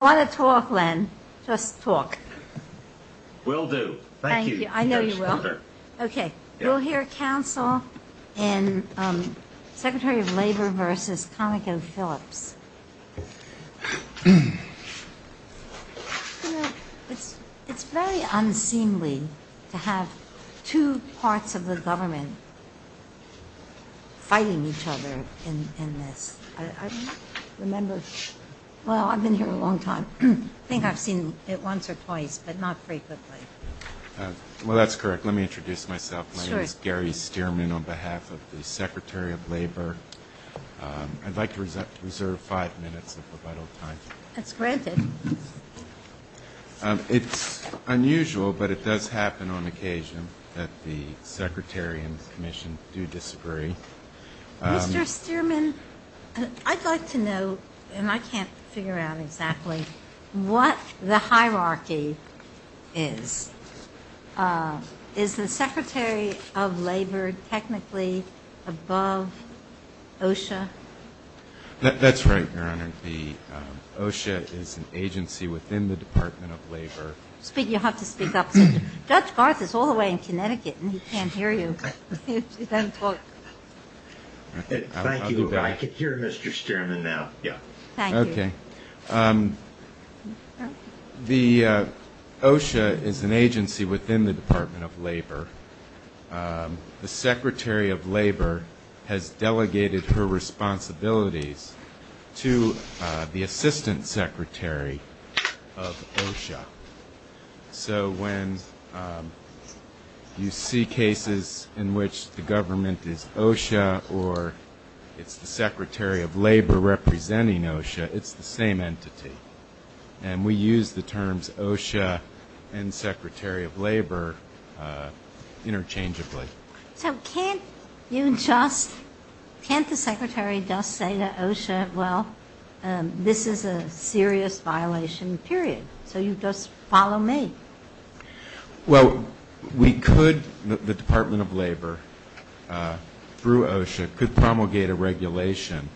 I want to talk, Len. Just talk. Will do. Thank you. I know you will. Okay, we'll hear counsel and Secretary of Labor versus Conocophillips. It's very unseemly to have two parts of the government fighting each other in this. I remember, well, I've been here a long time. I think I've seen it once or twice, but not frequently. Well, that's correct. Let me introduce myself. My name is Gary Stearman on behalf of the Secretary of Labor. I'd like to reserve five minutes of your vital time. That's granted. It's unusual, but it does happen on occasion that the Secretary and Commission do disagree. Mr. Stearman, I'd like to know, and I can't figure out exactly what the hierarchy is. Is the Secretary of Labor technically above OSHA? That's right, Your Honor. OSHA is an agency within the Department of Labor. You'll have to speak up. Judge Garth is all the way in Connecticut, and he can't hear you. Thank you. I can hear Mr. Stearman now. Okay. The OSHA is an agency within the Department of Labor. The Secretary of Labor has delegated her responsibilities to the Assistant Secretary of OSHA. So when you see cases in which the government is OSHA or it's the Secretary of Labor representing OSHA, it's the same entity. And we use the terms OSHA and Secretary of Labor interchangeably. So can't you just – can't the Secretary just say to OSHA, well, this is a serious violation, period, so you just follow me? Well, we could – the Department of Labor, through OSHA, could promulgate a regulation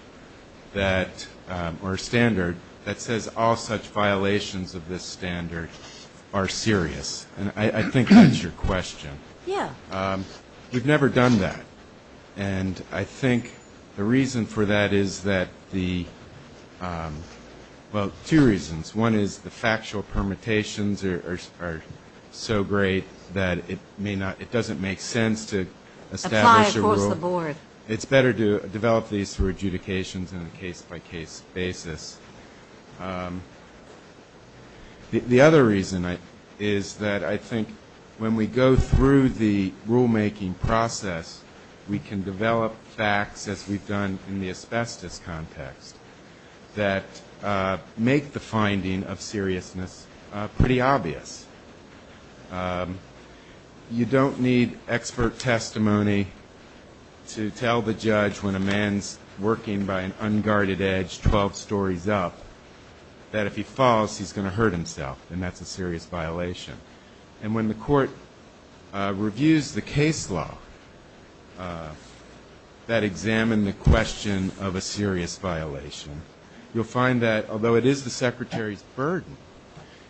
that – or a standard that says all such violations of this standard are serious. And I think that's your question. Yeah. We've never done that. And I think the reason for that is that the – well, two reasons. One is the factual permutations are so great that it may not – it doesn't make sense to establish a rule. Apply it towards the board. It's better to develop these through adjudications and a case-by-case basis. The other reason is that I think when we go through the rulemaking process, we can develop facts, as we've done in the asbestos context, that make the finding of seriousness pretty obvious. You don't need expert testimony to tell the judge when a man's working by an unguarded edge 12 stories up that if he falls, he's going to hurt himself, and that's a serious violation. And when the court reviews the case law that examine the question of a serious violation, you'll find that although it is the Secretary's burden,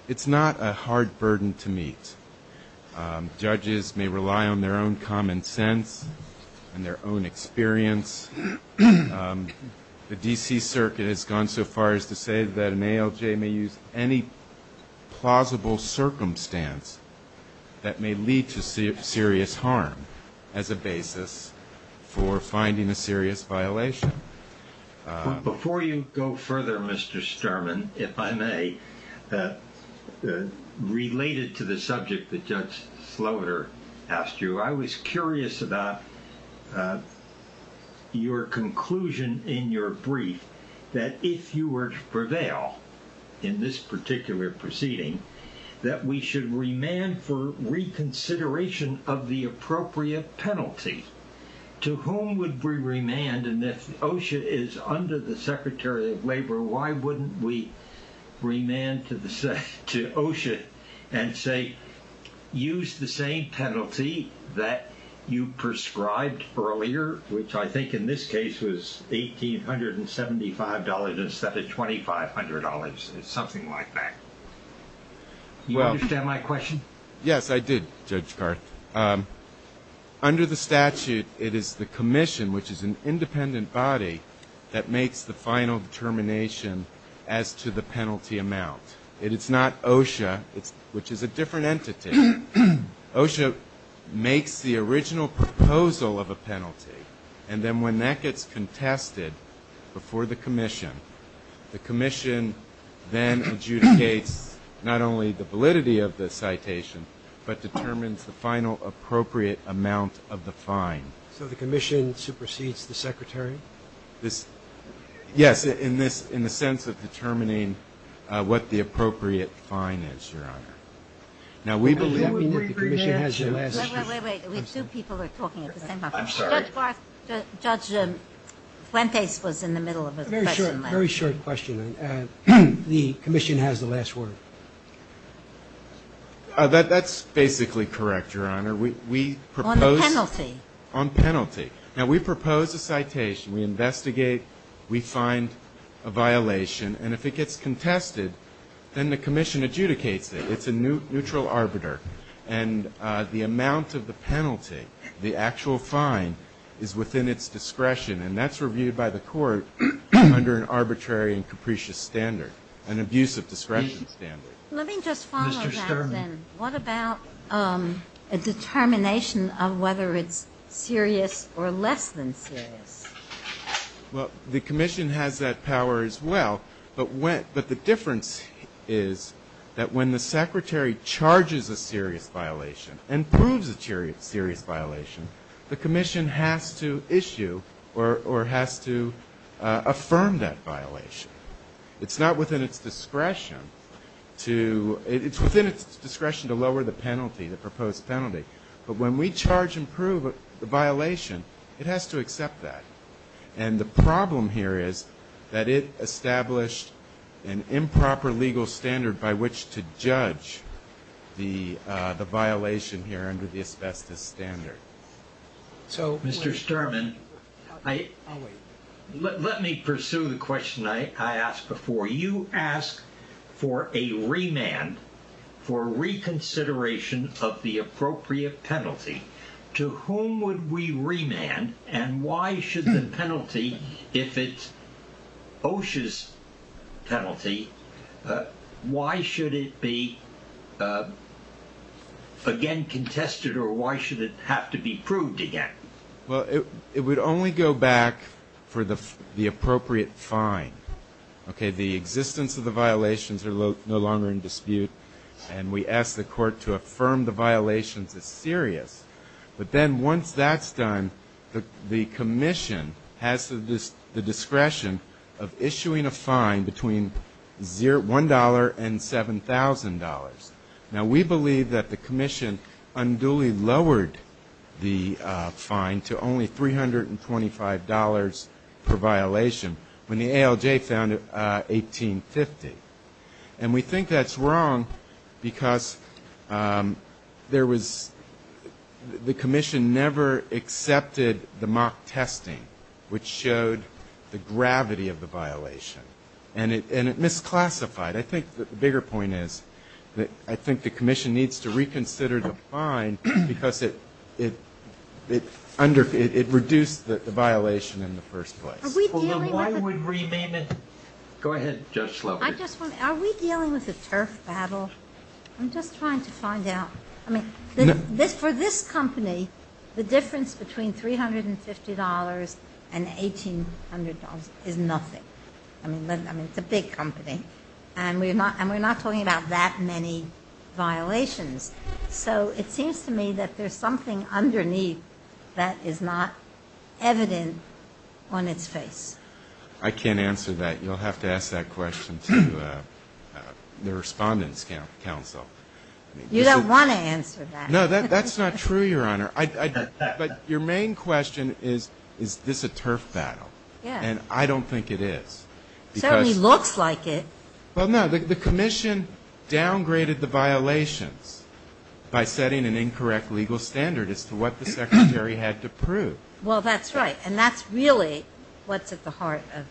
it's not a hard burden to meet. Judges may rely on their own common sense and their own experience. The D.C. Circuit has gone so far as to say that an ALJ may use any plausible circumstance that may lead to serious harm as a basis for finding a serious violation. Before you go further, Mr. Sterman, if I may, related to the subject that Judge Sloter asked you, I was curious about your conclusion in your brief that if you were to prevail in this particular proceeding, that we should remand for reconsideration of the appropriate penalty. To whom would we remand? And if OSHA is under the Secretary of Labor, why wouldn't we to OSHA and say, use the same penalty that you prescribed earlier, which I think in this case was $1,875 instead of $2,500, something like that? You understand my question? Yes, I did, Judge Carr. Under the statute, it is the commission, which is an independent body, that makes the final determination as to the penalty amount. It is not OSHA, which is a different entity. OSHA makes the original proposal of a penalty, and then when that gets contested before the commission, the commission then adjudicates not only the validity of the citation, but determines the final appropriate amount of the fine. So the commission supersedes the Secretary? Yes, in the sense of determining what the appropriate fine is, Your Honor. Now, we believe that the commission has the last word. Wait, wait, wait. We two people are talking at the same time. I'm sorry. Judge Fuentes was in the middle of a question last week. Very short question. The commission has the last word. That's basically correct, Your Honor. On the penalty? On penalty. Now, we propose a citation. We investigate. We find a violation. And if it gets contested, then the commission adjudicates it. It's a neutral arbiter. And the amount of the penalty, the actual fine, is within its discretion. And that's reviewed by the court under an arbitrary and capricious standard, an abuse of discretion standard. Mr. Sherman. What about a determination of whether it's serious or less than serious? Well, the commission has that power as well. But the difference is that when the Secretary charges a serious violation and proves a serious violation, the commission has to issue or has to affirm that violation. It's not within its discretion to — it's within its discretion to lower the penalty, the proposed penalty. But when we charge and prove a violation, it has to accept that. And the problem here is that it established an improper legal standard by which to judge the violation here under the asbestos standard. So, Mr. Sherman, let me pursue the question I asked before. You asked for a remand for reconsideration of the appropriate penalty. To whom would we remand? And why should the penalty, if it's OSHA's penalty, why should it be again contested or why should it have to be proved again? Well, it would only go back for the appropriate fine. Okay? The existence of the violations are no longer in dispute. And we ask the court to affirm the violations as serious. But then once that's done, the commission has the discretion of issuing a fine between $1,000 and $7,000. Now, we believe that the commission unduly lowered the fine to only $325 per violation when the ALJ found it $1,850. And we think that's wrong because there was — the commission never accepted the mock testing, which showed the gravity of the violation. And it misclassified. I think the bigger point is that I think the commission needs to reconsider the fine because it under — it reduced the violation in the first place. Are we dealing with a — Well, then why would remand — go ahead, Judge Slovich. I just want to — are we dealing with a turf battle? I'm just trying to find out. I mean, for this company, the difference between $350 and $1,800 is nothing. I mean, it's a big company. And we're not talking about that many violations. So it seems to me that there's something underneath that is not evident on its face. I can't answer that. You'll have to ask that question to the Respondents' Council. You don't want to answer that. No, that's not true, Your Honor. But your main question is, is this a turf battle? Yeah. And I don't think it is because — It certainly looks like it. Well, no, the commission downgraded the violations by setting an incorrect legal standard as to what the Secretary had to prove. Well, that's right. And that's really what's at the heart of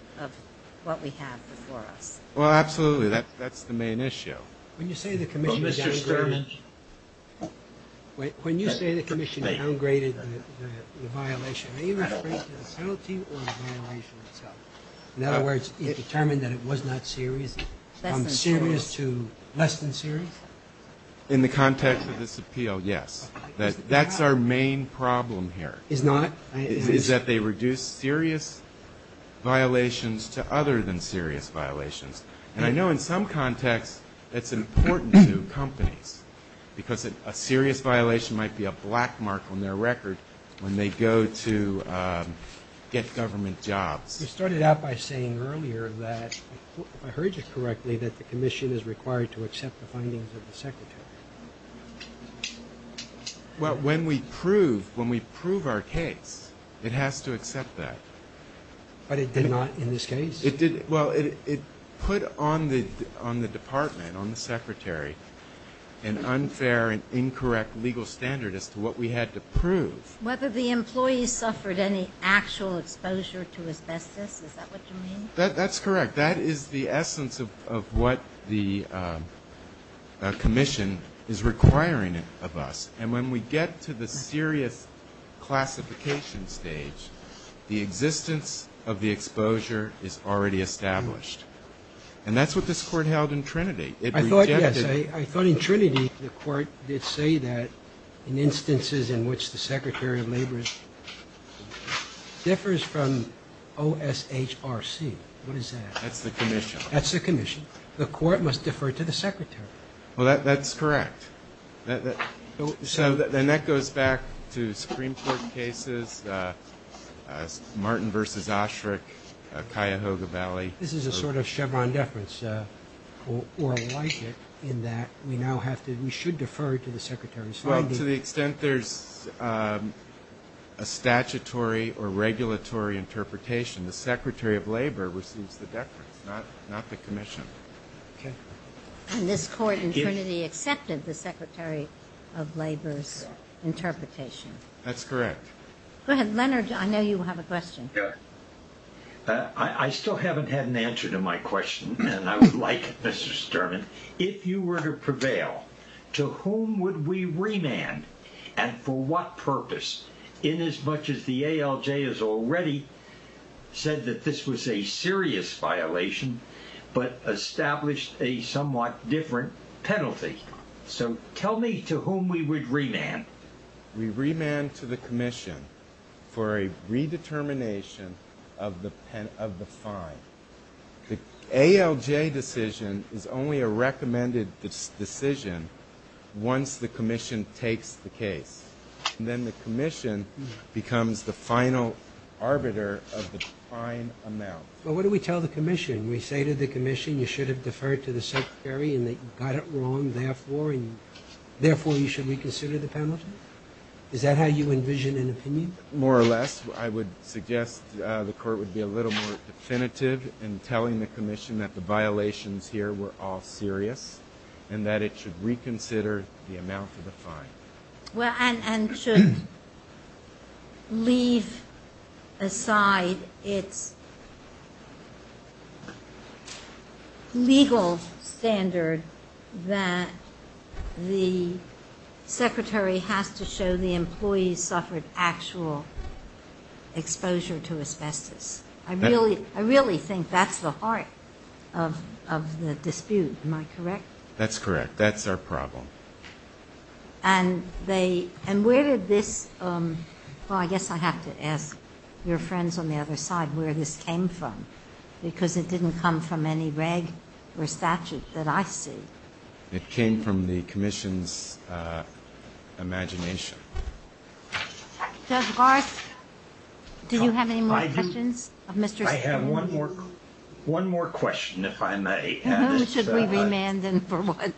what we have before us. Well, absolutely. That's the main issue. When you say the commission downgraded — Mr. Sturman. When you say the commission downgraded the violation, are you referring to the serialty or the violation itself? In other words, it determined that it was not serious? Less than serious. Serious to less than serious? In the context of this appeal, yes. That's our main problem here. It's not? Is that they reduce serious violations to other than serious violations. And I know in some contexts that's important to companies because a serious violation might be a black mark on their record when they go to get government jobs. You started out by saying earlier that, if I heard you correctly, that the commission is required to accept the findings of the Secretary. Well, when we prove our case, it has to accept that. But it did not in this case? It did — well, it put on the department, on the Secretary, whether the employees suffered any actual exposure to asbestos. Is that what you mean? That's correct. That is the essence of what the commission is requiring of us. And when we get to the serious classification stage, the existence of the exposure is already established. And that's what this Court held in Trinity. I thought, yes, I thought in Trinity the Court did say that in instances in which the Secretary of Labor differs from OSHRC. What is that? That's the commission. That's the commission. The Court must defer to the Secretary. Well, that's correct. So then that goes back to Supreme Court cases, Martin v. Osherick, Cuyahoga Valley. This is a sort of Chevron deference, or like it, in that we now have to — we should defer to the Secretary's findings. To the extent there's a statutory or regulatory interpretation, the Secretary of Labor receives the deference, not the commission. And this Court in Trinity accepted the Secretary of Labor's interpretation. That's correct. Go ahead. Leonard, I know you have a question. I still haven't had an answer to my question, and I would like it, Mr. Sturman. If you were to prevail, to whom would we remand, and for what purpose, inasmuch as the ALJ has already said that this was a serious violation but established a somewhat different penalty? So tell me to whom we would remand. We remand to the commission for a redetermination of the fine. The ALJ decision is only a recommended decision once the commission takes the case, and then the commission becomes the final arbiter of the fine amount. But what do we tell the commission? We say to the commission, you should have deferred to the Secretary, and they got it wrong, therefore you should reconsider the penalty? Is that how you envision an opinion? More or less, I would suggest the Court would be a little more definitive in telling the commission that the violations here were all serious and that it should reconsider the amount of the fine. Well, and should leave aside its legal standard that the Secretary has to show the employee suffered actual exposure to asbestos? I really think that's the heart of the dispute. Am I correct? That's correct. That's our problem. And they, and where did this, well, I guess I have to ask your friends on the other side where this came from, because it didn't come from any reg or statute that I see. It came from the commission's imagination. Judge Garth, do you have any more questions of Mr. Spoon? I have one more, one more question, if I may. Should we remand him for one?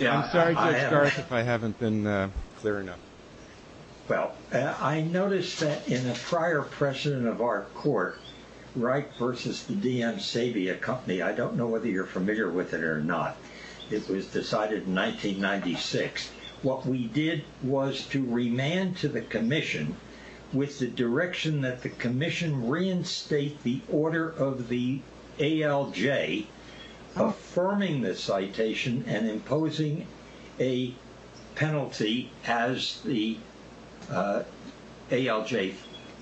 I'm sorry, Judge Garth, if I haven't been clear enough. Well, I noticed that in a prior precedent of our court, Wright versus the DM Sabia Company, I don't know whether you're familiar with it or not. It was decided in 1996. What we did was to remand to the commission with the direction that the commission reinstate the ALJ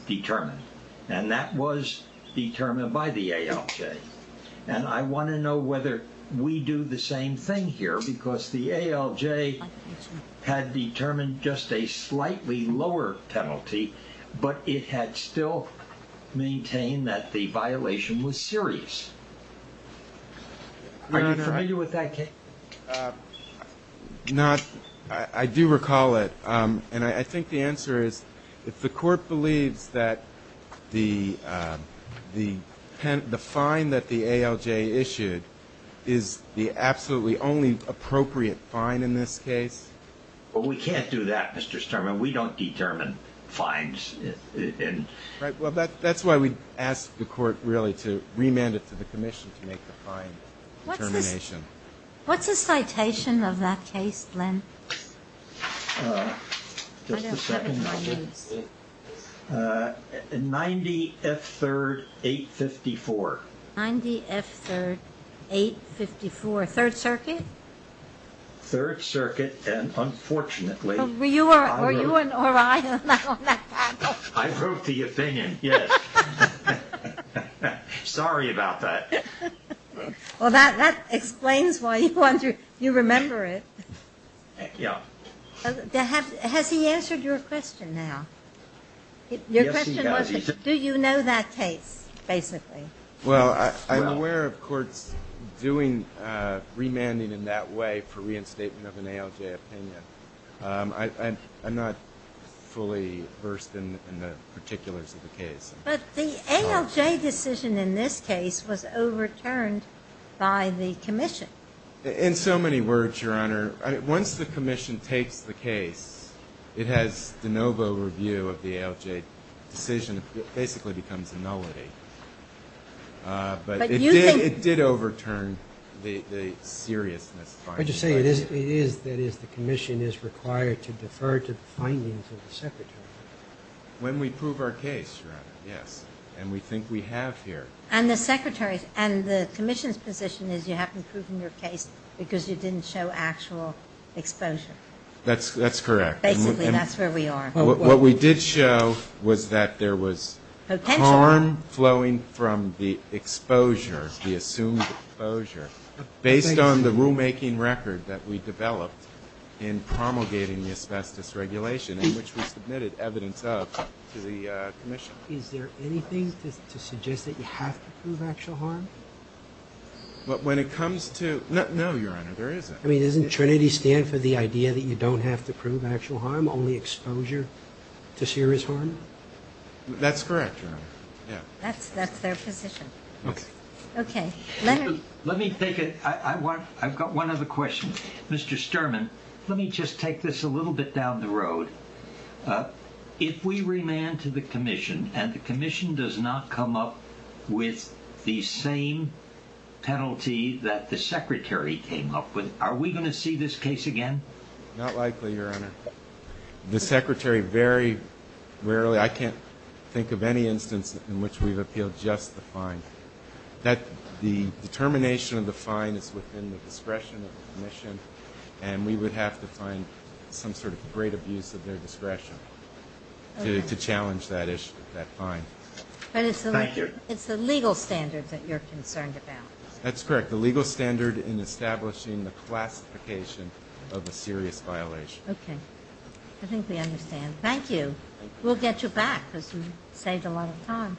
determined. And that was determined by the ALJ. And I want to know whether we do the same thing here, because the ALJ had determined just a slightly lower penalty, but it had still maintained that the violation was serious. Are you familiar with that case? No, I do recall it. And I think the answer is, if the court believes that the fine that the ALJ issued is the absolutely only appropriate fine in this case. But we can't do that, Mr. Sterman. We don't determine fines. Right. Well, that's why we asked the court really to remand it to the commission to make the fine determination. What's the citation of that case, Len? Just a second. 90 F3rd 854. 90 F3rd 854, 3rd Circuit? 3rd Circuit. And unfortunately... Were you or I on that panel? I wrote the opinion, yes. Sorry about that. Well, that explains why you remember it. Yeah. Has he answered your question now? Your question was, do you know that case, basically? Well, I'm aware of courts doing remanding in that way for reinstatement of an ALJ opinion. I'm not fully versed in the particulars of the case. But the ALJ decision in this case was overturned by the commission. In so many words, Your Honor, once the commission takes the case, it has de novo review of the ALJ decision. It basically becomes a nullity. But it did overturn the seriousness fine. Would you say it is that the commission is required to defer to the findings of the secretary? When we prove our case, Your Honor, yes. And we think we have here. And the commission's position is you haven't proven your case because you didn't show actual exposure. That's correct. Basically, that's where we are. What we did show was that there was harm flowing from the exposure, the assumed exposure, based on the rulemaking record that we developed in promulgating the asbestos regulation in which we submitted evidence of to the commission. Is there anything to suggest that you have to prove actual harm? But when it comes to... No, Your Honor, there isn't. I mean, doesn't Trinity stand for the idea that you don't have to prove actual harm, only exposure to serious harm? That's correct, Your Honor. Yeah. That's their position. Okay. Let me take it. I've got one other question. Mr. Sturman, let me just take this a little bit down the road. Uh, if we remand to the commission and the commission does not come up with the same penalty that the secretary came up with, are we going to see this case again? Not likely, Your Honor. The secretary very rarely... I can't think of any instance in which we've appealed just the fine. That the determination of the fine is within the discretion of the commission, and we would have to find some sort of great abuse of their discretion to challenge that issue, that fine. But it's the legal standard that you're concerned about. That's correct. The legal standard in establishing the classification of a serious violation. Okay. I think we understand. Thank you. We'll get you back because you saved a lot of time.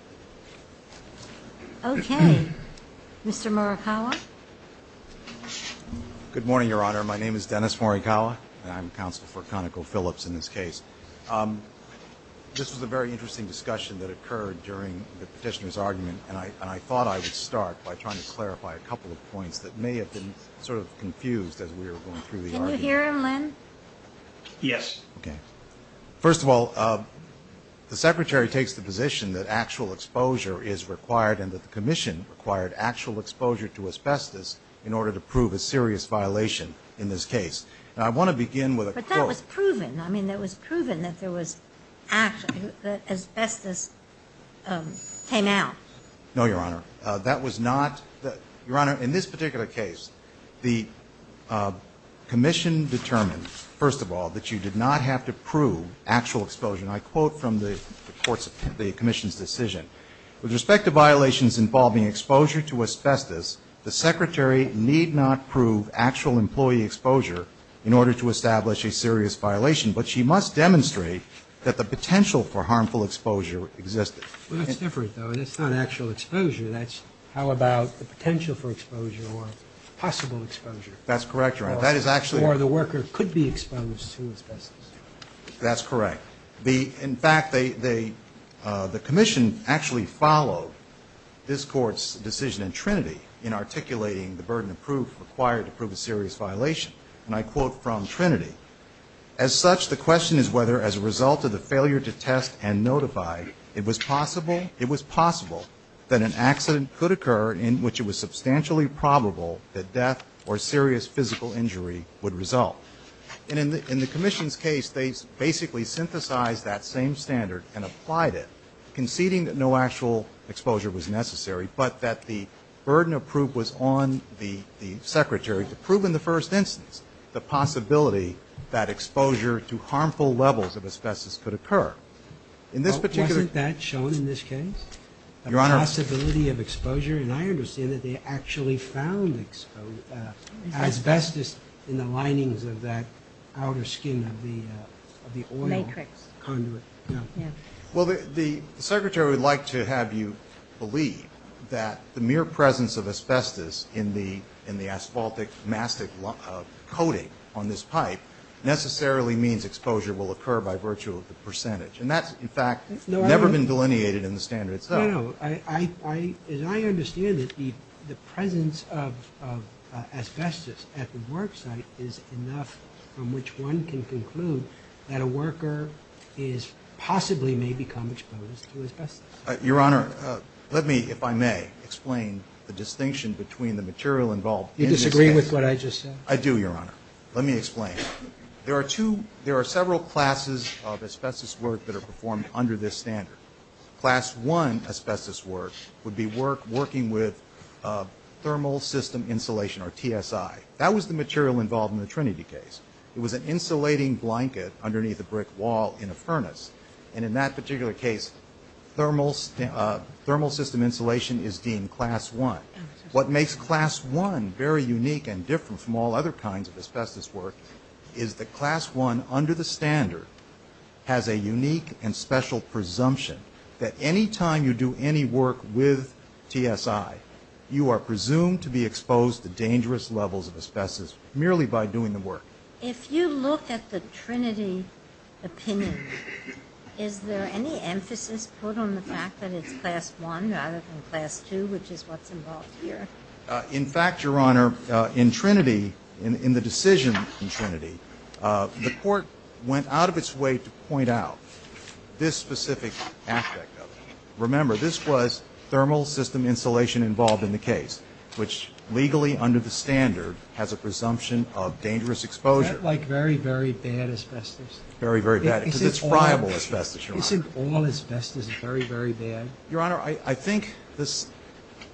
Okay. Mr. Murakawa. Good morning, Your Honor. My name is Dennis Murakawa, and I'm counsel for ConocoPhillips in this case. Um, this was a very interesting discussion that occurred during the petitioner's argument, and I thought I would start by trying to clarify a couple of points that may have been sort of confused as we were going through the argument. Can you hear him, Len? Yes. Okay. First of all, uh, the secretary takes the position that actual exposure is required and that the commission required actual exposure to a special case. In order to prove a serious violation in this case. Now, I want to begin with a quote. But that was proven. I mean, that was proven that there was actually, that asbestos, um, came out. No, Your Honor. That was not the, Your Honor, in this particular case, the, uh, commission determined, first of all, that you did not have to prove actual exposure. And I quote from the court's, the commission's decision. With respect to violations involving exposure to asbestos, the secretary need not prove actual employee exposure in order to establish a serious violation. But she must demonstrate that the potential for harmful exposure existed. Well, that's different though. That's not actual exposure. That's how about the potential for exposure or possible exposure. That's correct, Your Honor. That is actually. Or the worker could be exposed to asbestos. That's correct. The, in fact, they, they, uh, the commission actually followed this court's decision in Trinity in articulating the burden of proof required to prove a serious violation. And I quote from Trinity, as such, the question is whether as a result of the failure to test and notify, it was possible, it was possible that an accident could occur in which it was substantially probable that death or serious physical injury would result. And in the, in the commission's case, they basically synthesized that same standard and applied it conceding that no actual exposure was necessary, but that the burden of proof was on the, the secretary to prove in the first instance, the possibility that exposure to harmful levels of asbestos could occur in this particular, that shown in this case, the possibility of exposure. And I understand that they actually found asbestos in the linings of that outer skin of the, uh, of the oil conduit. Well, the secretary would like to have you believe that the mere presence of asbestos in the, in the asphaltic mastic coating on this pipe necessarily means exposure will occur by virtue of the percentage. And that's in fact, never been delineated in the standard. No, no, I, I, I, as I understand it, the, the presence of, of asbestos at the worksite is enough from which one can conclude that a worker is possibly may become exposed to asbestos. Your Honor, let me, if I may explain the distinction between the material involved in this case. You disagree with what I just said? I do, Your Honor. Let me explain. There are two, there are several classes of asbestos work that are performed under this standard. Class one asbestos work would be work working with, uh, thermal system insulation or TSI. That was the material involved in the Trinity case. It was an insulating blanket underneath a brick wall in a furnace. And in that particular case, thermal, uh, thermal system insulation is deemed class one. What makes class one very unique and different from all other kinds of asbestos work is that class one under the standard has a unique and special presumption that anytime you do any work with TSI, you are presumed to be exposed to dangerous levels of asbestos merely by doing the work. If you look at the Trinity opinion, is there any emphasis put on the fact that it's class one rather than class two, which is what's involved here? Uh, in fact, Your Honor, uh, in Trinity, in, in the decision in Trinity, uh, the specific aspect of it, remember, this was thermal system insulation involved in the case, which legally under the standard has a presumption of dangerous exposure. Is that like very, very bad asbestos? Very, very bad. Because it's friable asbestos, Your Honor. Isn't all asbestos very, very bad? Your Honor, I, I think this,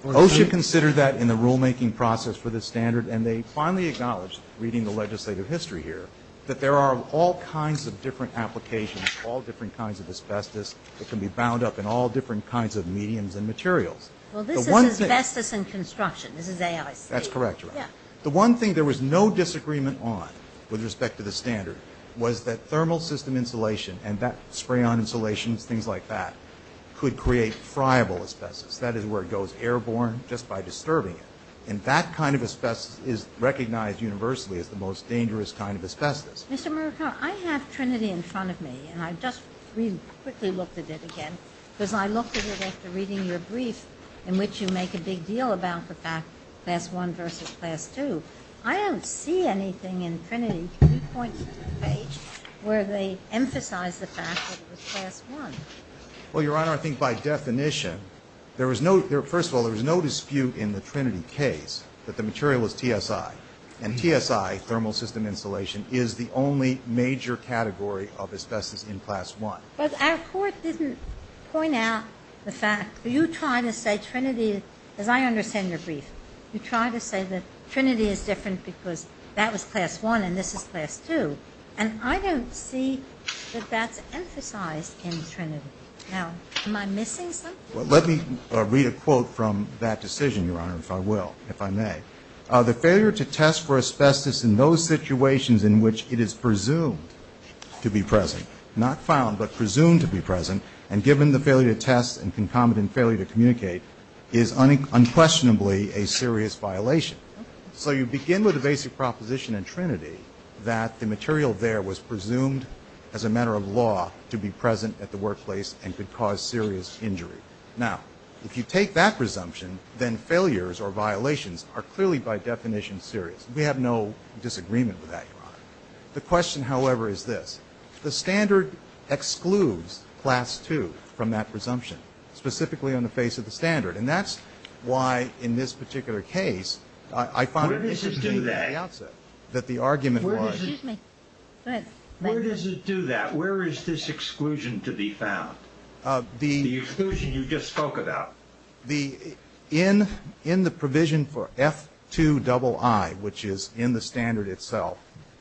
OSHA considered that in the rulemaking process for this standard, and they finally acknowledged, reading the legislative history here, that there are all kinds of different applications, all different kinds of asbestos that can be bound up in all different kinds of mediums and materials. Well, this is asbestos in construction. This is AIC. That's correct, Your Honor. The one thing there was no disagreement on with respect to the standard was that thermal system insulation and that spray-on insulation, things like that, could create friable asbestos. That is where it goes airborne just by disturbing it. And that kind of asbestos is recognized universally as the most dangerous kind of asbestos. Mr. Murakami, I have Trinity in front of me, and I just really quickly looked at it again, because I looked at it after reading your brief, in which you make a big deal about the fact, class one versus class two. I don't see anything in Trinity, three points on the page, where they emphasize the fact that it was class one. Well, Your Honor, I think by definition, there was no, there, first of all, there was no dispute in the Trinity case that the material was TSI, and TSI, thermal system insulation, is the only major category of asbestos in class one. But our court didn't point out the fact, you try to say Trinity, as I understand your brief, you try to say that Trinity is different because that was class one and this is class two, and I don't see that that's emphasized in Trinity. Now, am I missing something? Well, let me read a quote from that decision, Your Honor, if I will, if I may. The failure to test for asbestos in those situations in which it is presumed to be present, not found but presumed to be present, and given the failure to test and concomitant failure to communicate, is unquestionably a serious violation. So you begin with a basic proposition in Trinity that the material there was presumed as a matter of law to be present at the workplace and could cause serious injury. Now, if you take that presumption, then failures or violations are clearly by definition serious. We have no disagreement with that, Your Honor. The question, however, is this. The standard excludes class two from that presumption, specifically on the face of the standard. And that's why, in this particular case, I found at the very outset that the argument was Where does it do that? Where is this exclusion to be found? The exclusion you just spoke about. In the provision for F2II, which is in the standard itself,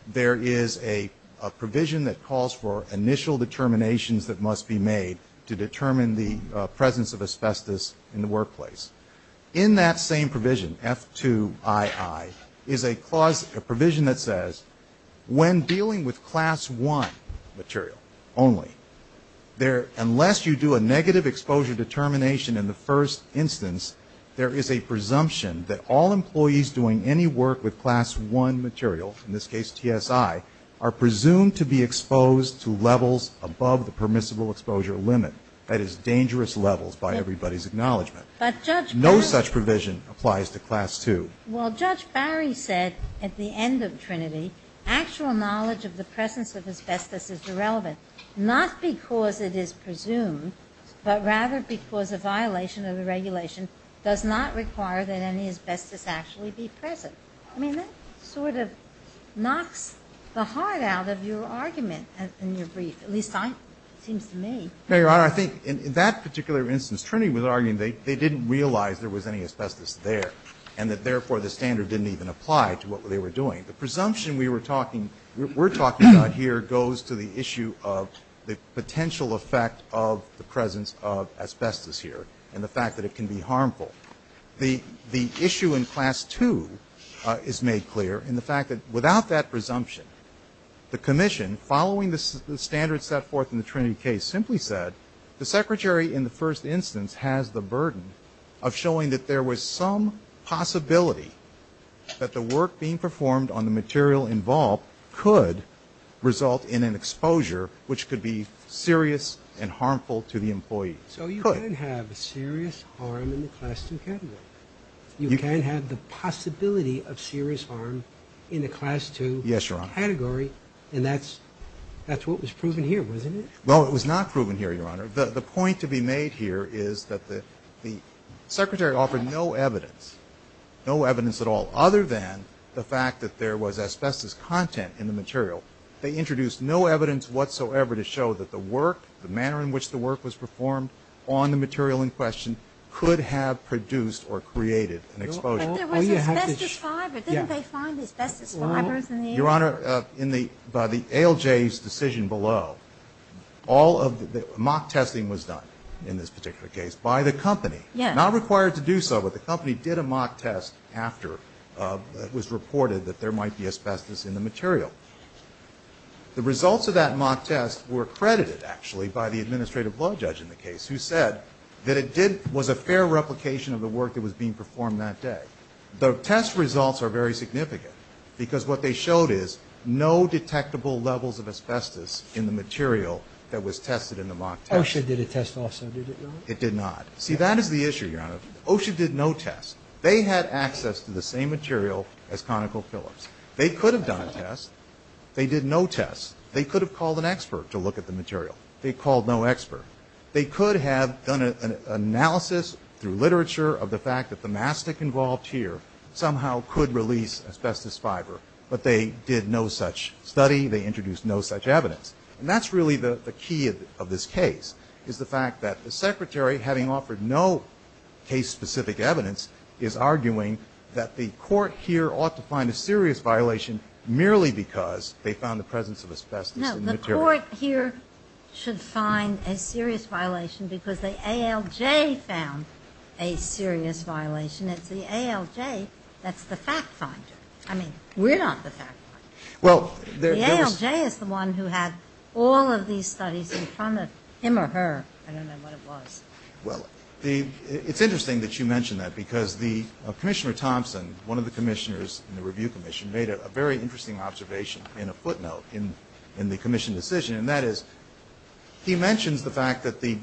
there is a provision that calls for initial determinations that must be made to determine the presence of asbestos in the workplace. In that same provision, F2II, is a provision that says when dealing with class one material only, unless you do a negative exposure determination in the first instance, there is a presumption that all employees doing any work with class one material, in this case, TSI, are presumed to be exposed to levels above the permissible exposure limit. That is dangerous levels, by everybody's acknowledgement. But, Judge Barry. No such provision applies to class two. Well, Judge Barry said at the end of Trinity, actual knowledge of the presence of asbestos is irrelevant, not because it is presumed, but rather because a violation of the regulation does not require that any asbestos actually be present. I mean, that sort of knocks the heart out of your argument in your brief, at least it seems to me. No, Your Honor. I think in that particular instance, Trinity was arguing they didn't realize there was any asbestos there, and that, therefore, the standard didn't even apply to what they were doing. The presumption we were talking, we're talking about here goes to the issue of the potential effect of the presence of asbestos here, and the fact that it can be harmful. The issue in class two is made clear in the fact that without that presumption, the Commission, following the standards set forth in the Trinity case, simply said the secretary in the first instance has the burden of showing that there was some possibility that the work being performed on the material involved could result in an exposure which could be serious and harmful to the employee. So you could have serious harm in the class two category. You can have the possibility of serious harm in the class two category. Yes, Your Honor. And that's what was proven here, wasn't it? Well, it was not proven here, Your Honor. The point to be made here is that the secretary offered no evidence, no evidence at all, other than the fact that there was asbestos content in the material. They introduced no evidence whatsoever to show that the work, the manner in which the work was performed on the material in question could have produced or created an exposure. But there was asbestos fiber. Didn't they find asbestos fibers in the air? below, all of the mock testing was done in this particular case by the company. Yes. Not required to do so, but the company did a mock test after it was reported that there might be asbestos in the material. The results of that mock test were credited, actually, by the administrative law judge in the case who said that it did, was a fair replication of the work that was being performed that day. The test results are very significant because what they showed is no detectable levels of asbestos in the material that was tested in the mock test. OSHA did a test also, did it not? It did not. See, that is the issue, Your Honor. OSHA did no test. They had access to the same material as ConocoPhillips. They could have done a test. They did no test. They could have called an expert to look at the material. They called no expert. They could have done an analysis through literature of the fact that the mastic involved here somehow could release asbestos fiber, but they did no such study. They introduced no such evidence. And that's really the key of this case, is the fact that the Secretary, having offered no case-specific evidence, is arguing that the Court here ought to find a serious violation merely because they found the presence of asbestos in the material. No, the Court here should find a serious violation because the ALJ found a serious violation. It's the ALJ that's the fact finder. I mean, we're not the fact finder. The ALJ is the one who had all of these studies in front of him or her. I don't know what it was. Well, it's interesting that you mention that because Commissioner Thompson, one of the commissioners in the Review Commission, made a very interesting observation in a footnote in the commission decision. And that is, he mentions the fact that the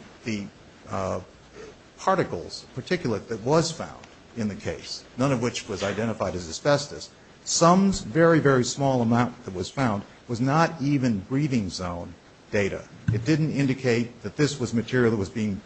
particles, particulate that was found in the case, none of which was identified as asbestos, sums very, very small amount that was found, was not even breathing zone data. It didn't indicate that this was material that was being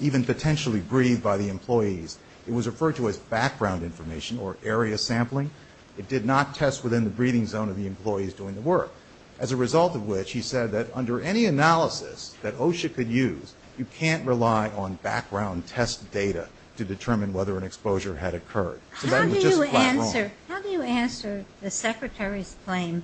even potentially breathed by the employees. It was referred to as background information or area sampling. It did not test within the breathing zone of the employees doing the work. As a result of which, he said that under any analysis that OSHA could use, you can't rely on background test data to determine whether an exposure had occurred. How do you answer the Secretary's claim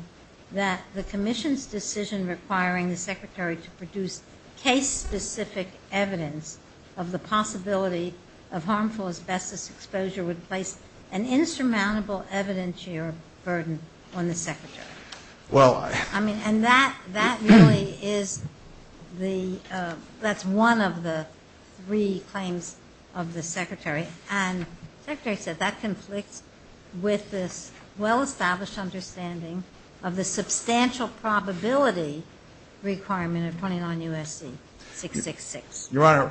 that the commission's decision requiring the Secretary to produce case-specific evidence of the possibility of harmful asbestos exposure would place an insurmountable evidentiary burden on the Secretary? And that really is the, that's one of the three claims of the Secretary. And the Secretary said that conflicts with this well-established understanding of the substantial probability requirement of 29 U.S.C. 666. Your Honor,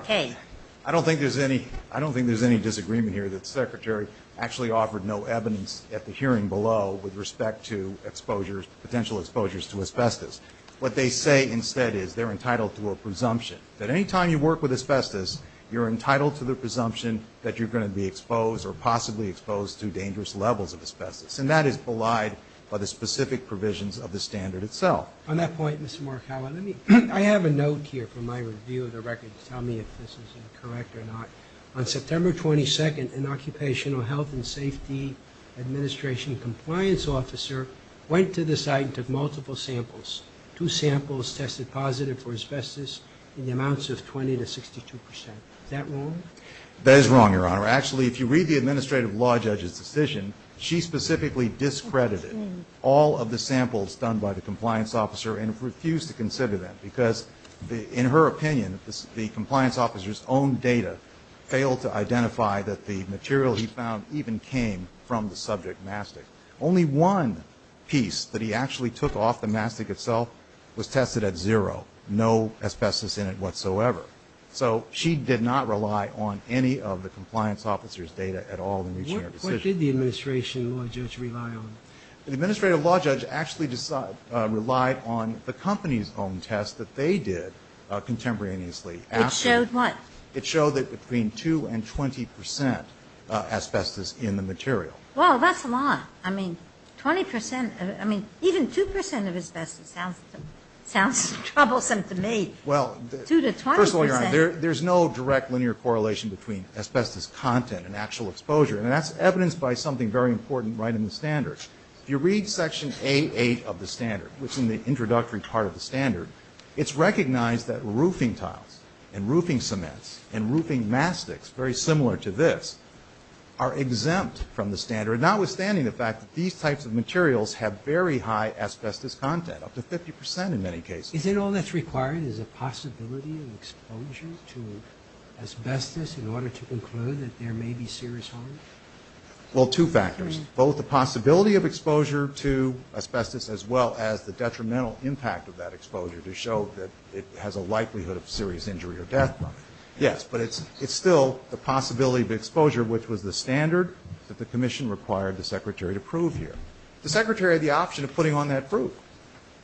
I don't think there's any, I don't think there's any disagreement here that the Secretary actually offered no evidence at the hearing below with respect to exposures, potential exposures to asbestos. What they say instead is they're entitled to a presumption. That any time you work with asbestos, you're entitled to the presumption that you're going to be exposed or possibly exposed to dangerous levels of asbestos. And that is belied by the specific provisions of the standard itself. On that point, Mr. Markawa, let me, I have a note here from my review of the record to tell me if this is correct or not. On September 22nd, an Occupational Health and Safety Administration compliance officer went to the site and took multiple samples. Two samples tested positive for asbestos in the amounts of 20 to 62 percent. Is that wrong? That is wrong, Your Honor. Actually, if you read the administrative law judge's decision, she specifically discredited all of the samples done by the compliance officer and refused to consider them because, in her opinion, the compliance officer's own data failed to identify that the material he found even came from the subject mastic. Only one piece that he actually took off the mastic itself was tested at zero, no asbestos in it whatsoever. So she did not rely on any of the compliance officer's data at all in reaching her decision. What did the administrative law judge rely on? The administrative law judge actually relied on the company's own test that they did contemporaneously. It showed what? It showed that between 2 and 20 percent asbestos in the material. Well, that's a lot. I mean, 20 percent, I mean, even 2 percent of asbestos sounds troublesome to me. Well, Two to 20 percent. There's no direct linear correlation between asbestos content and actual exposure, and that's evidenced by something very important right in the standards. If you read section 88 of the standard, which is in the introductory part of the standard, it's recognized that roofing tiles and roofing cements and roofing mastics, very similar to this, are exempt from the standard, notwithstanding the fact that these types of materials have very high asbestos content, up to 50 percent in many cases. Is it all that's required is a possibility of exposure to asbestos in order to conclude that there may be serious harm? Well, two factors, both the possibility of exposure to asbestos as well as the detrimental impact of that exposure to show that it has a likelihood of serious injury or death. Yes, but it's still the possibility of exposure, which was the standard that the commission required the secretary to prove here. The secretary had the option of putting on that proof,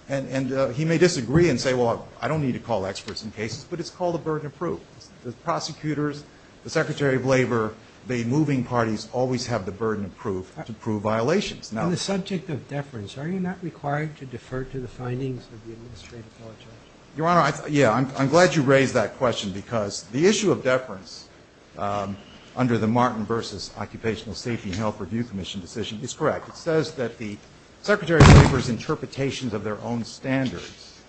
and he may disagree and say, well, I don't need to call experts in cases, but it's called a burden of proof. The prosecutors, the secretary of labor, the moving parties always have the burden of proof to prove violations. Now the subject of deference, are you not required to defer to the findings of the administrative law judge? Your Honor, yeah, I'm glad you raised that question, because the issue of deference under the Martin v. Occupational Safety and Health Review Commission decision is correct. It says that the secretary of labor's interpretations of their own standards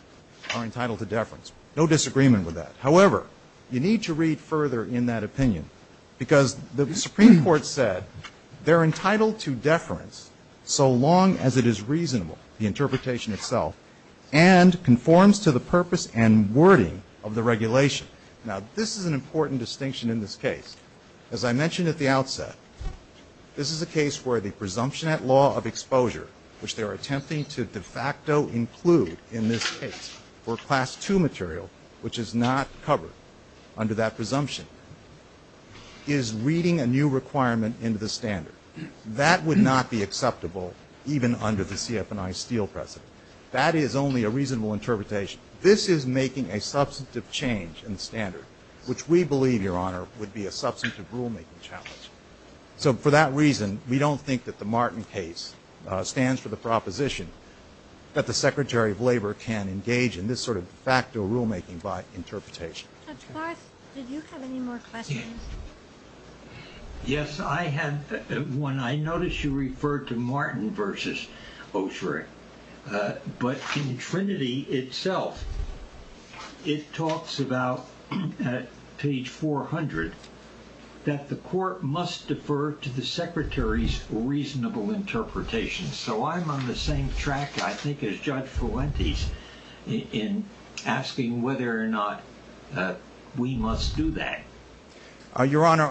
are entitled to deference. No disagreement with that. However, you need to read further in that opinion, because the Supreme Court said they're entitled to deference so long as it is reasonable, the interpretation itself, and conforms to the purpose and wording of the regulation. Now this is an important distinction in this case. As I mentioned at the outset, this is a case where the presumption at law of exposure, which they are attempting to de facto include in this case for Class II material, which is not covered under that presumption, is reading a new requirement into the standard. That would not be acceptable even under the CF&I Steele precedent. That is only a reasonable interpretation. This is making a substantive change in the standard, which we believe, Your Honor, would be a substantive rulemaking challenge. So for that reason, we don't think that the Martin case stands for the proposition that the secretary of labor can engage in this sort of de facto rulemaking by interpretation. Judge Garth, did you have any more questions? Yes, I have one. I noticed you referred to Martin versus Osherick, but in Trinity itself, it talks about page 400, that the court must defer to the secretary's reasonable interpretation. So I'm on the same track, I think, as Judge Fuentes in asking whether or not we must do that. Your Honor,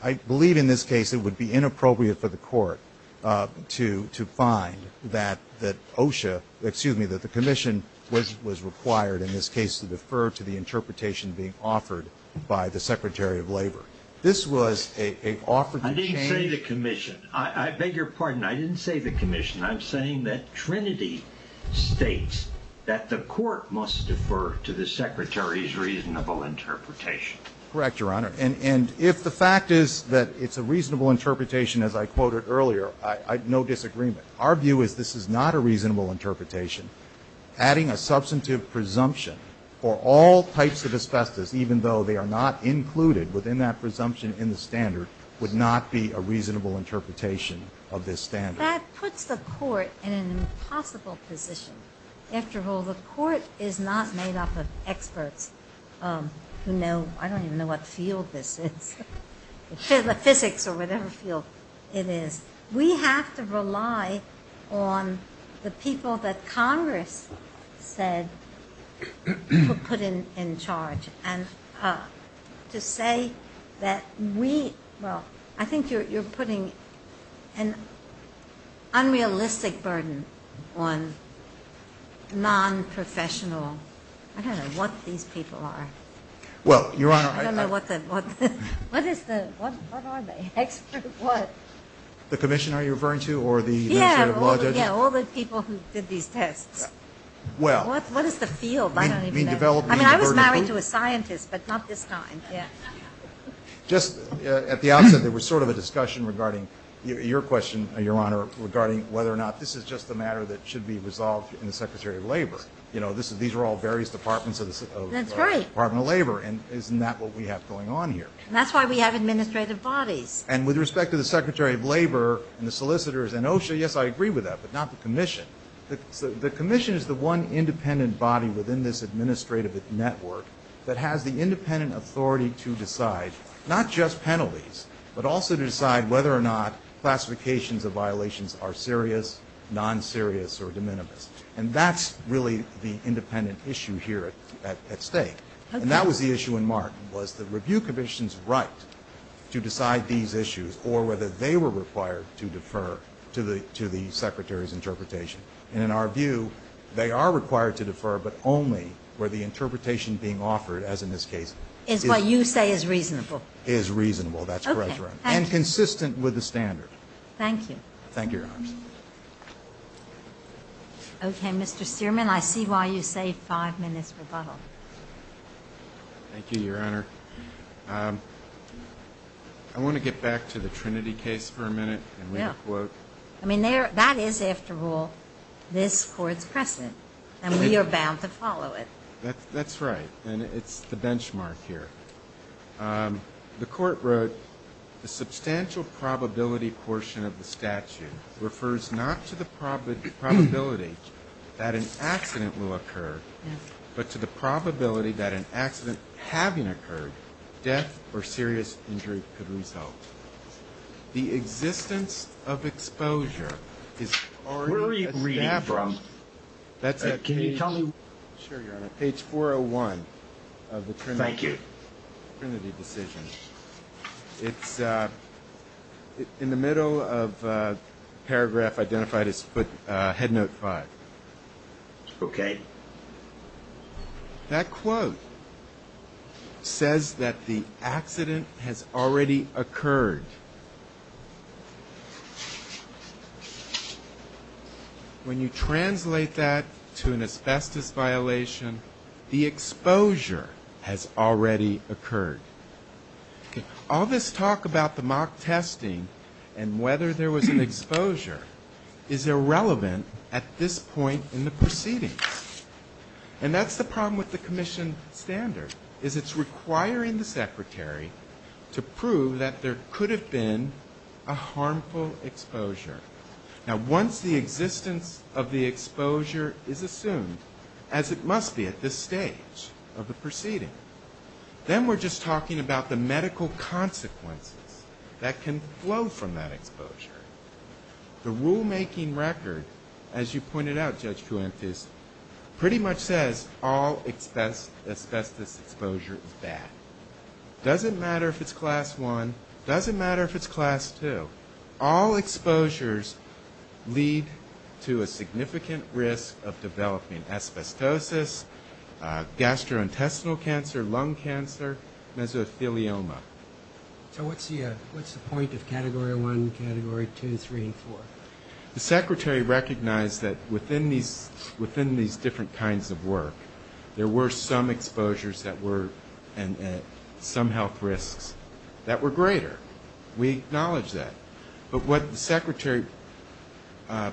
I believe in this case it would be inappropriate for the court to find that the commission was required, in this case, to defer to the interpretation being offered by the secretary of labor. This was an offer to change. I didn't say the commission. I beg your pardon. I didn't say the commission. I'm saying that Trinity states that the court must defer to the secretary's reasonable interpretation. Correct, Your Honor. And if the fact is that it's a reasonable interpretation, as I quoted earlier, no disagreement. Our view is this is not a reasonable interpretation. Adding a substantive presumption for all types of asbestos, even though they are not included within that presumption in the standard, would not be a reasonable interpretation of this standard. That puts the court in an impossible position. After all, the court is not made up of experts who know, I don't even know what field this is, physics or whatever field it is. We have to rely on the people that Congress said were put in charge. And to say that we, well, I think you're putting an unrealistic burden on non-professional, I don't know what these people are. Well, Your Honor, I don't know what the, what is the, what are they? Expert what? The commissioner you're referring to? Or the, yeah, all the people who did these tests. Well, what is the field? I don't even know. I mean, I was married to a scientist, but not this time. Just at the outset, there was sort of a discussion regarding your question, Your Honor, regarding whether or not this is just a matter that should be resolved in the Secretary of Labor. You know, this is, these are all various departments of the Department of Labor. And isn't that what we have going on here? And that's why we have administrative bodies. And with respect to the Secretary of Labor and the solicitors and OSHA, yes, I agree with that, but not the commission. The commission is the one independent body within this administrative network that has the independent authority to decide not just penalties, but also to decide whether or not classifications of violations are serious, non-serious, or de minimis. And that's really the independent issue here at stake. And that was the issue in Mark, was the review commission's right to decide these issues or whether they were required to defer to the Secretary's interpretation. And in our view, they are required to defer, but only where the interpretation being offered, as in this case, is reasonable. Is reasonable, that's correct, Your Honor, and consistent with the standard. Thank you. Thank you, Your Honor. Okay, Mr. Stearman, I see why you say 5 minutes rebuttal. Thank you, Your Honor. I want to get back to the Trinity case for a minute and read a quote. I mean, that is, after all, this Court's precedent, and we are bound to follow it. That's right, and it's the benchmark here. The Court wrote, the substantial probability portion of the statute refers not to the probability that an accident having occurred, death, or serious injury could result. The existence of exposure is already established. Where are you reading from? Can you tell me? Sure, Your Honor. Page 401 of the Trinity. Thank you. Trinity decision. It's in the middle of paragraph identified as head note 5. Okay. That quote says that the accident has already occurred. When you translate that to an asbestos violation, the exposure has already occurred. All this talk about the mock testing and whether there was an exposure is irrelevant at this point in the proceeding. And that's the problem with the commission standard, is it's requiring the Secretary to prove that there could have been a harmful exposure. Now, once the existence of the exposure is assumed, as it must be at this stage of the proceeding, then we're just talking about the medical consequences that can flow from that exposure. The rulemaking record, as you pointed out, Judge Kuentes, pretty much says all asbestos exposure is bad. Doesn't matter if it's class 1. Doesn't matter if it's class 2. All exposures lead to a significant risk of developing asbestosis, gastrointestinal cancer, lung cancer, mesothelioma. So what's the point of category 1, category 2, 3, and 4? The Secretary recognized that within these different kinds of work, there were some exposures that were, and some health risks that were greater. We acknowledge that. But what the Secretary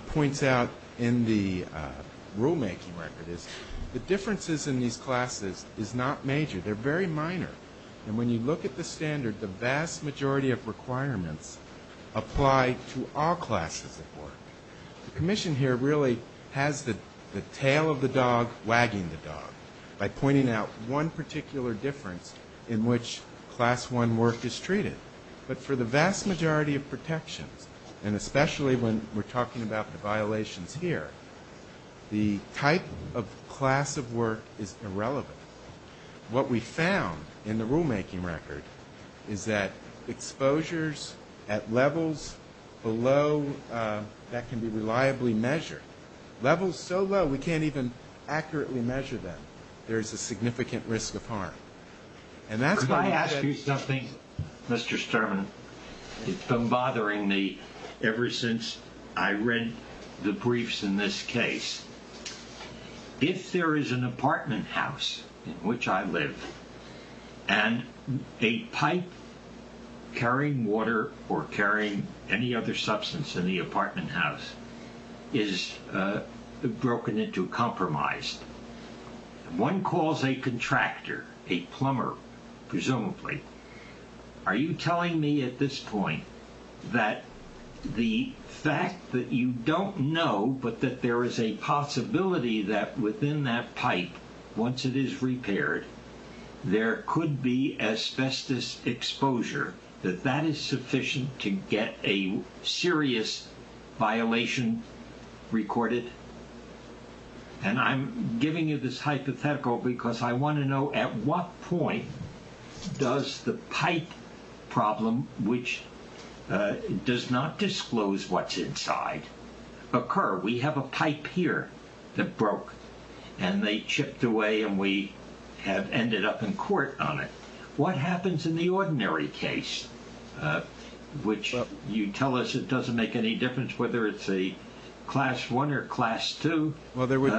points out in the rulemaking record is the differences in these classes is not major. They're very minor. And when you look at the standard, the vast majority of requirements apply to all classes of work. The Commission here really has the tail of the dog wagging the dog by pointing out one particular difference in which class 1 work is treated. But for the vast majority of protections, and especially when we're talking about the violations here, the type of class of work is irrelevant. What we found in the rulemaking record is that exposures at levels below that can be reliably measured, levels so low we can't even accurately measure them, there's a significant risk of harm. And that's why I ask you something, Mr. Sturman. It's been bothering me ever since I read the briefs in this case. If there is an apartment house in which I live and a pipe carrying water or carrying any other substance in the apartment house is broken into compromised, one calls a contractor, a plumber, presumably, are you telling me at this point that the fact that you don't know but that there is a possibility that within that pipe, once it is repaired, there could be asbestos exposure, that that is sufficient to get a serious violation recorded? And I'm giving you this hypothetical because I want to know at what point does the pipe problem, which does not disclose what's inside, occur? We have a pipe here that broke and they chipped away and we have ended up in court on it. What happens in the ordinary case, which you tell us it doesn't make any difference whether it's a class one or class two? Well, there would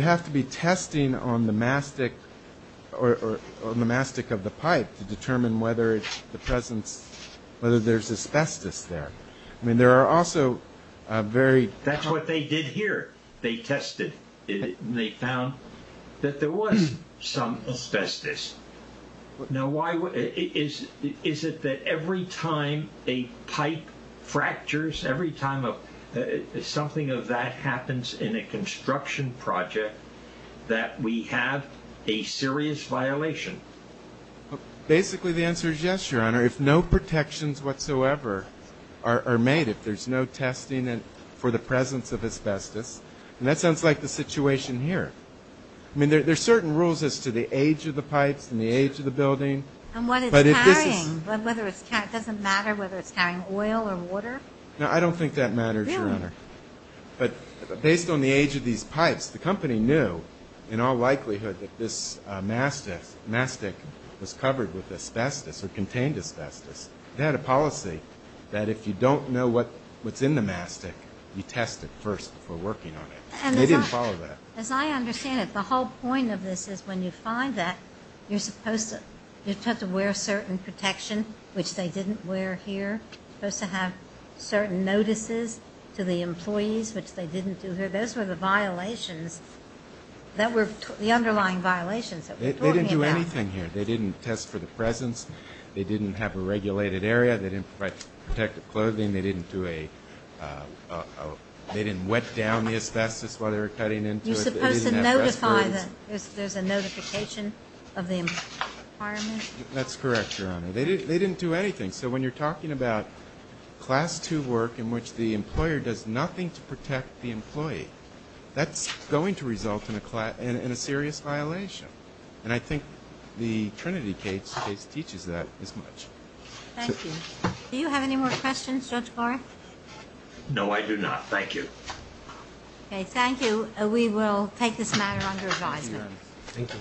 have to be testing on the mastic of the pipe to determine whether there's asbestos there. That's what they did here. They tested it and they found that there was some asbestos. Now, is it that every time a pipe fractures, every time something of that happens in a construction project, that we have a serious violation? Basically, the answer is yes, Your Honor. If no protections whatsoever are made, if there's no testing for the presence of asbestos, and that sounds like the situation here. I mean, there's certain rules as to the age of the pipes and the age of the building. And what it's carrying, it doesn't matter whether it's carrying oil or water? No, I don't think that matters, Your Honor. But based on the age of these pipes, the company knew in all likelihood that this mastic was covered with asbestos or contained asbestos. They had a policy that if you don't know what's in the mastic, you test it first before working on it. And they didn't follow that. As I understand it, the whole point of this is when you find that, you're supposed to wear certain protection, which they didn't wear here, supposed to have certain notices to the employees, which they didn't do here. Those were the violations that were the underlying violations that we're talking about. They didn't do anything here. They didn't test for the presence. They didn't have a regulated area. They didn't provide protective clothing. They didn't wet down the asbestos while they were cutting into it. You're supposed to notify that there's a notification of the environment? That's correct, Your Honor. They didn't do anything. So when you're talking about Class II work in which the employer does nothing to protect the employee, that's going to result in a serious violation. And I think the Trinity case teaches that as much. Thank you. Do you have any more questions, Judge Barr? No, I do not. Thank you. Okay, thank you. We will take this matter under advisement. Thank you.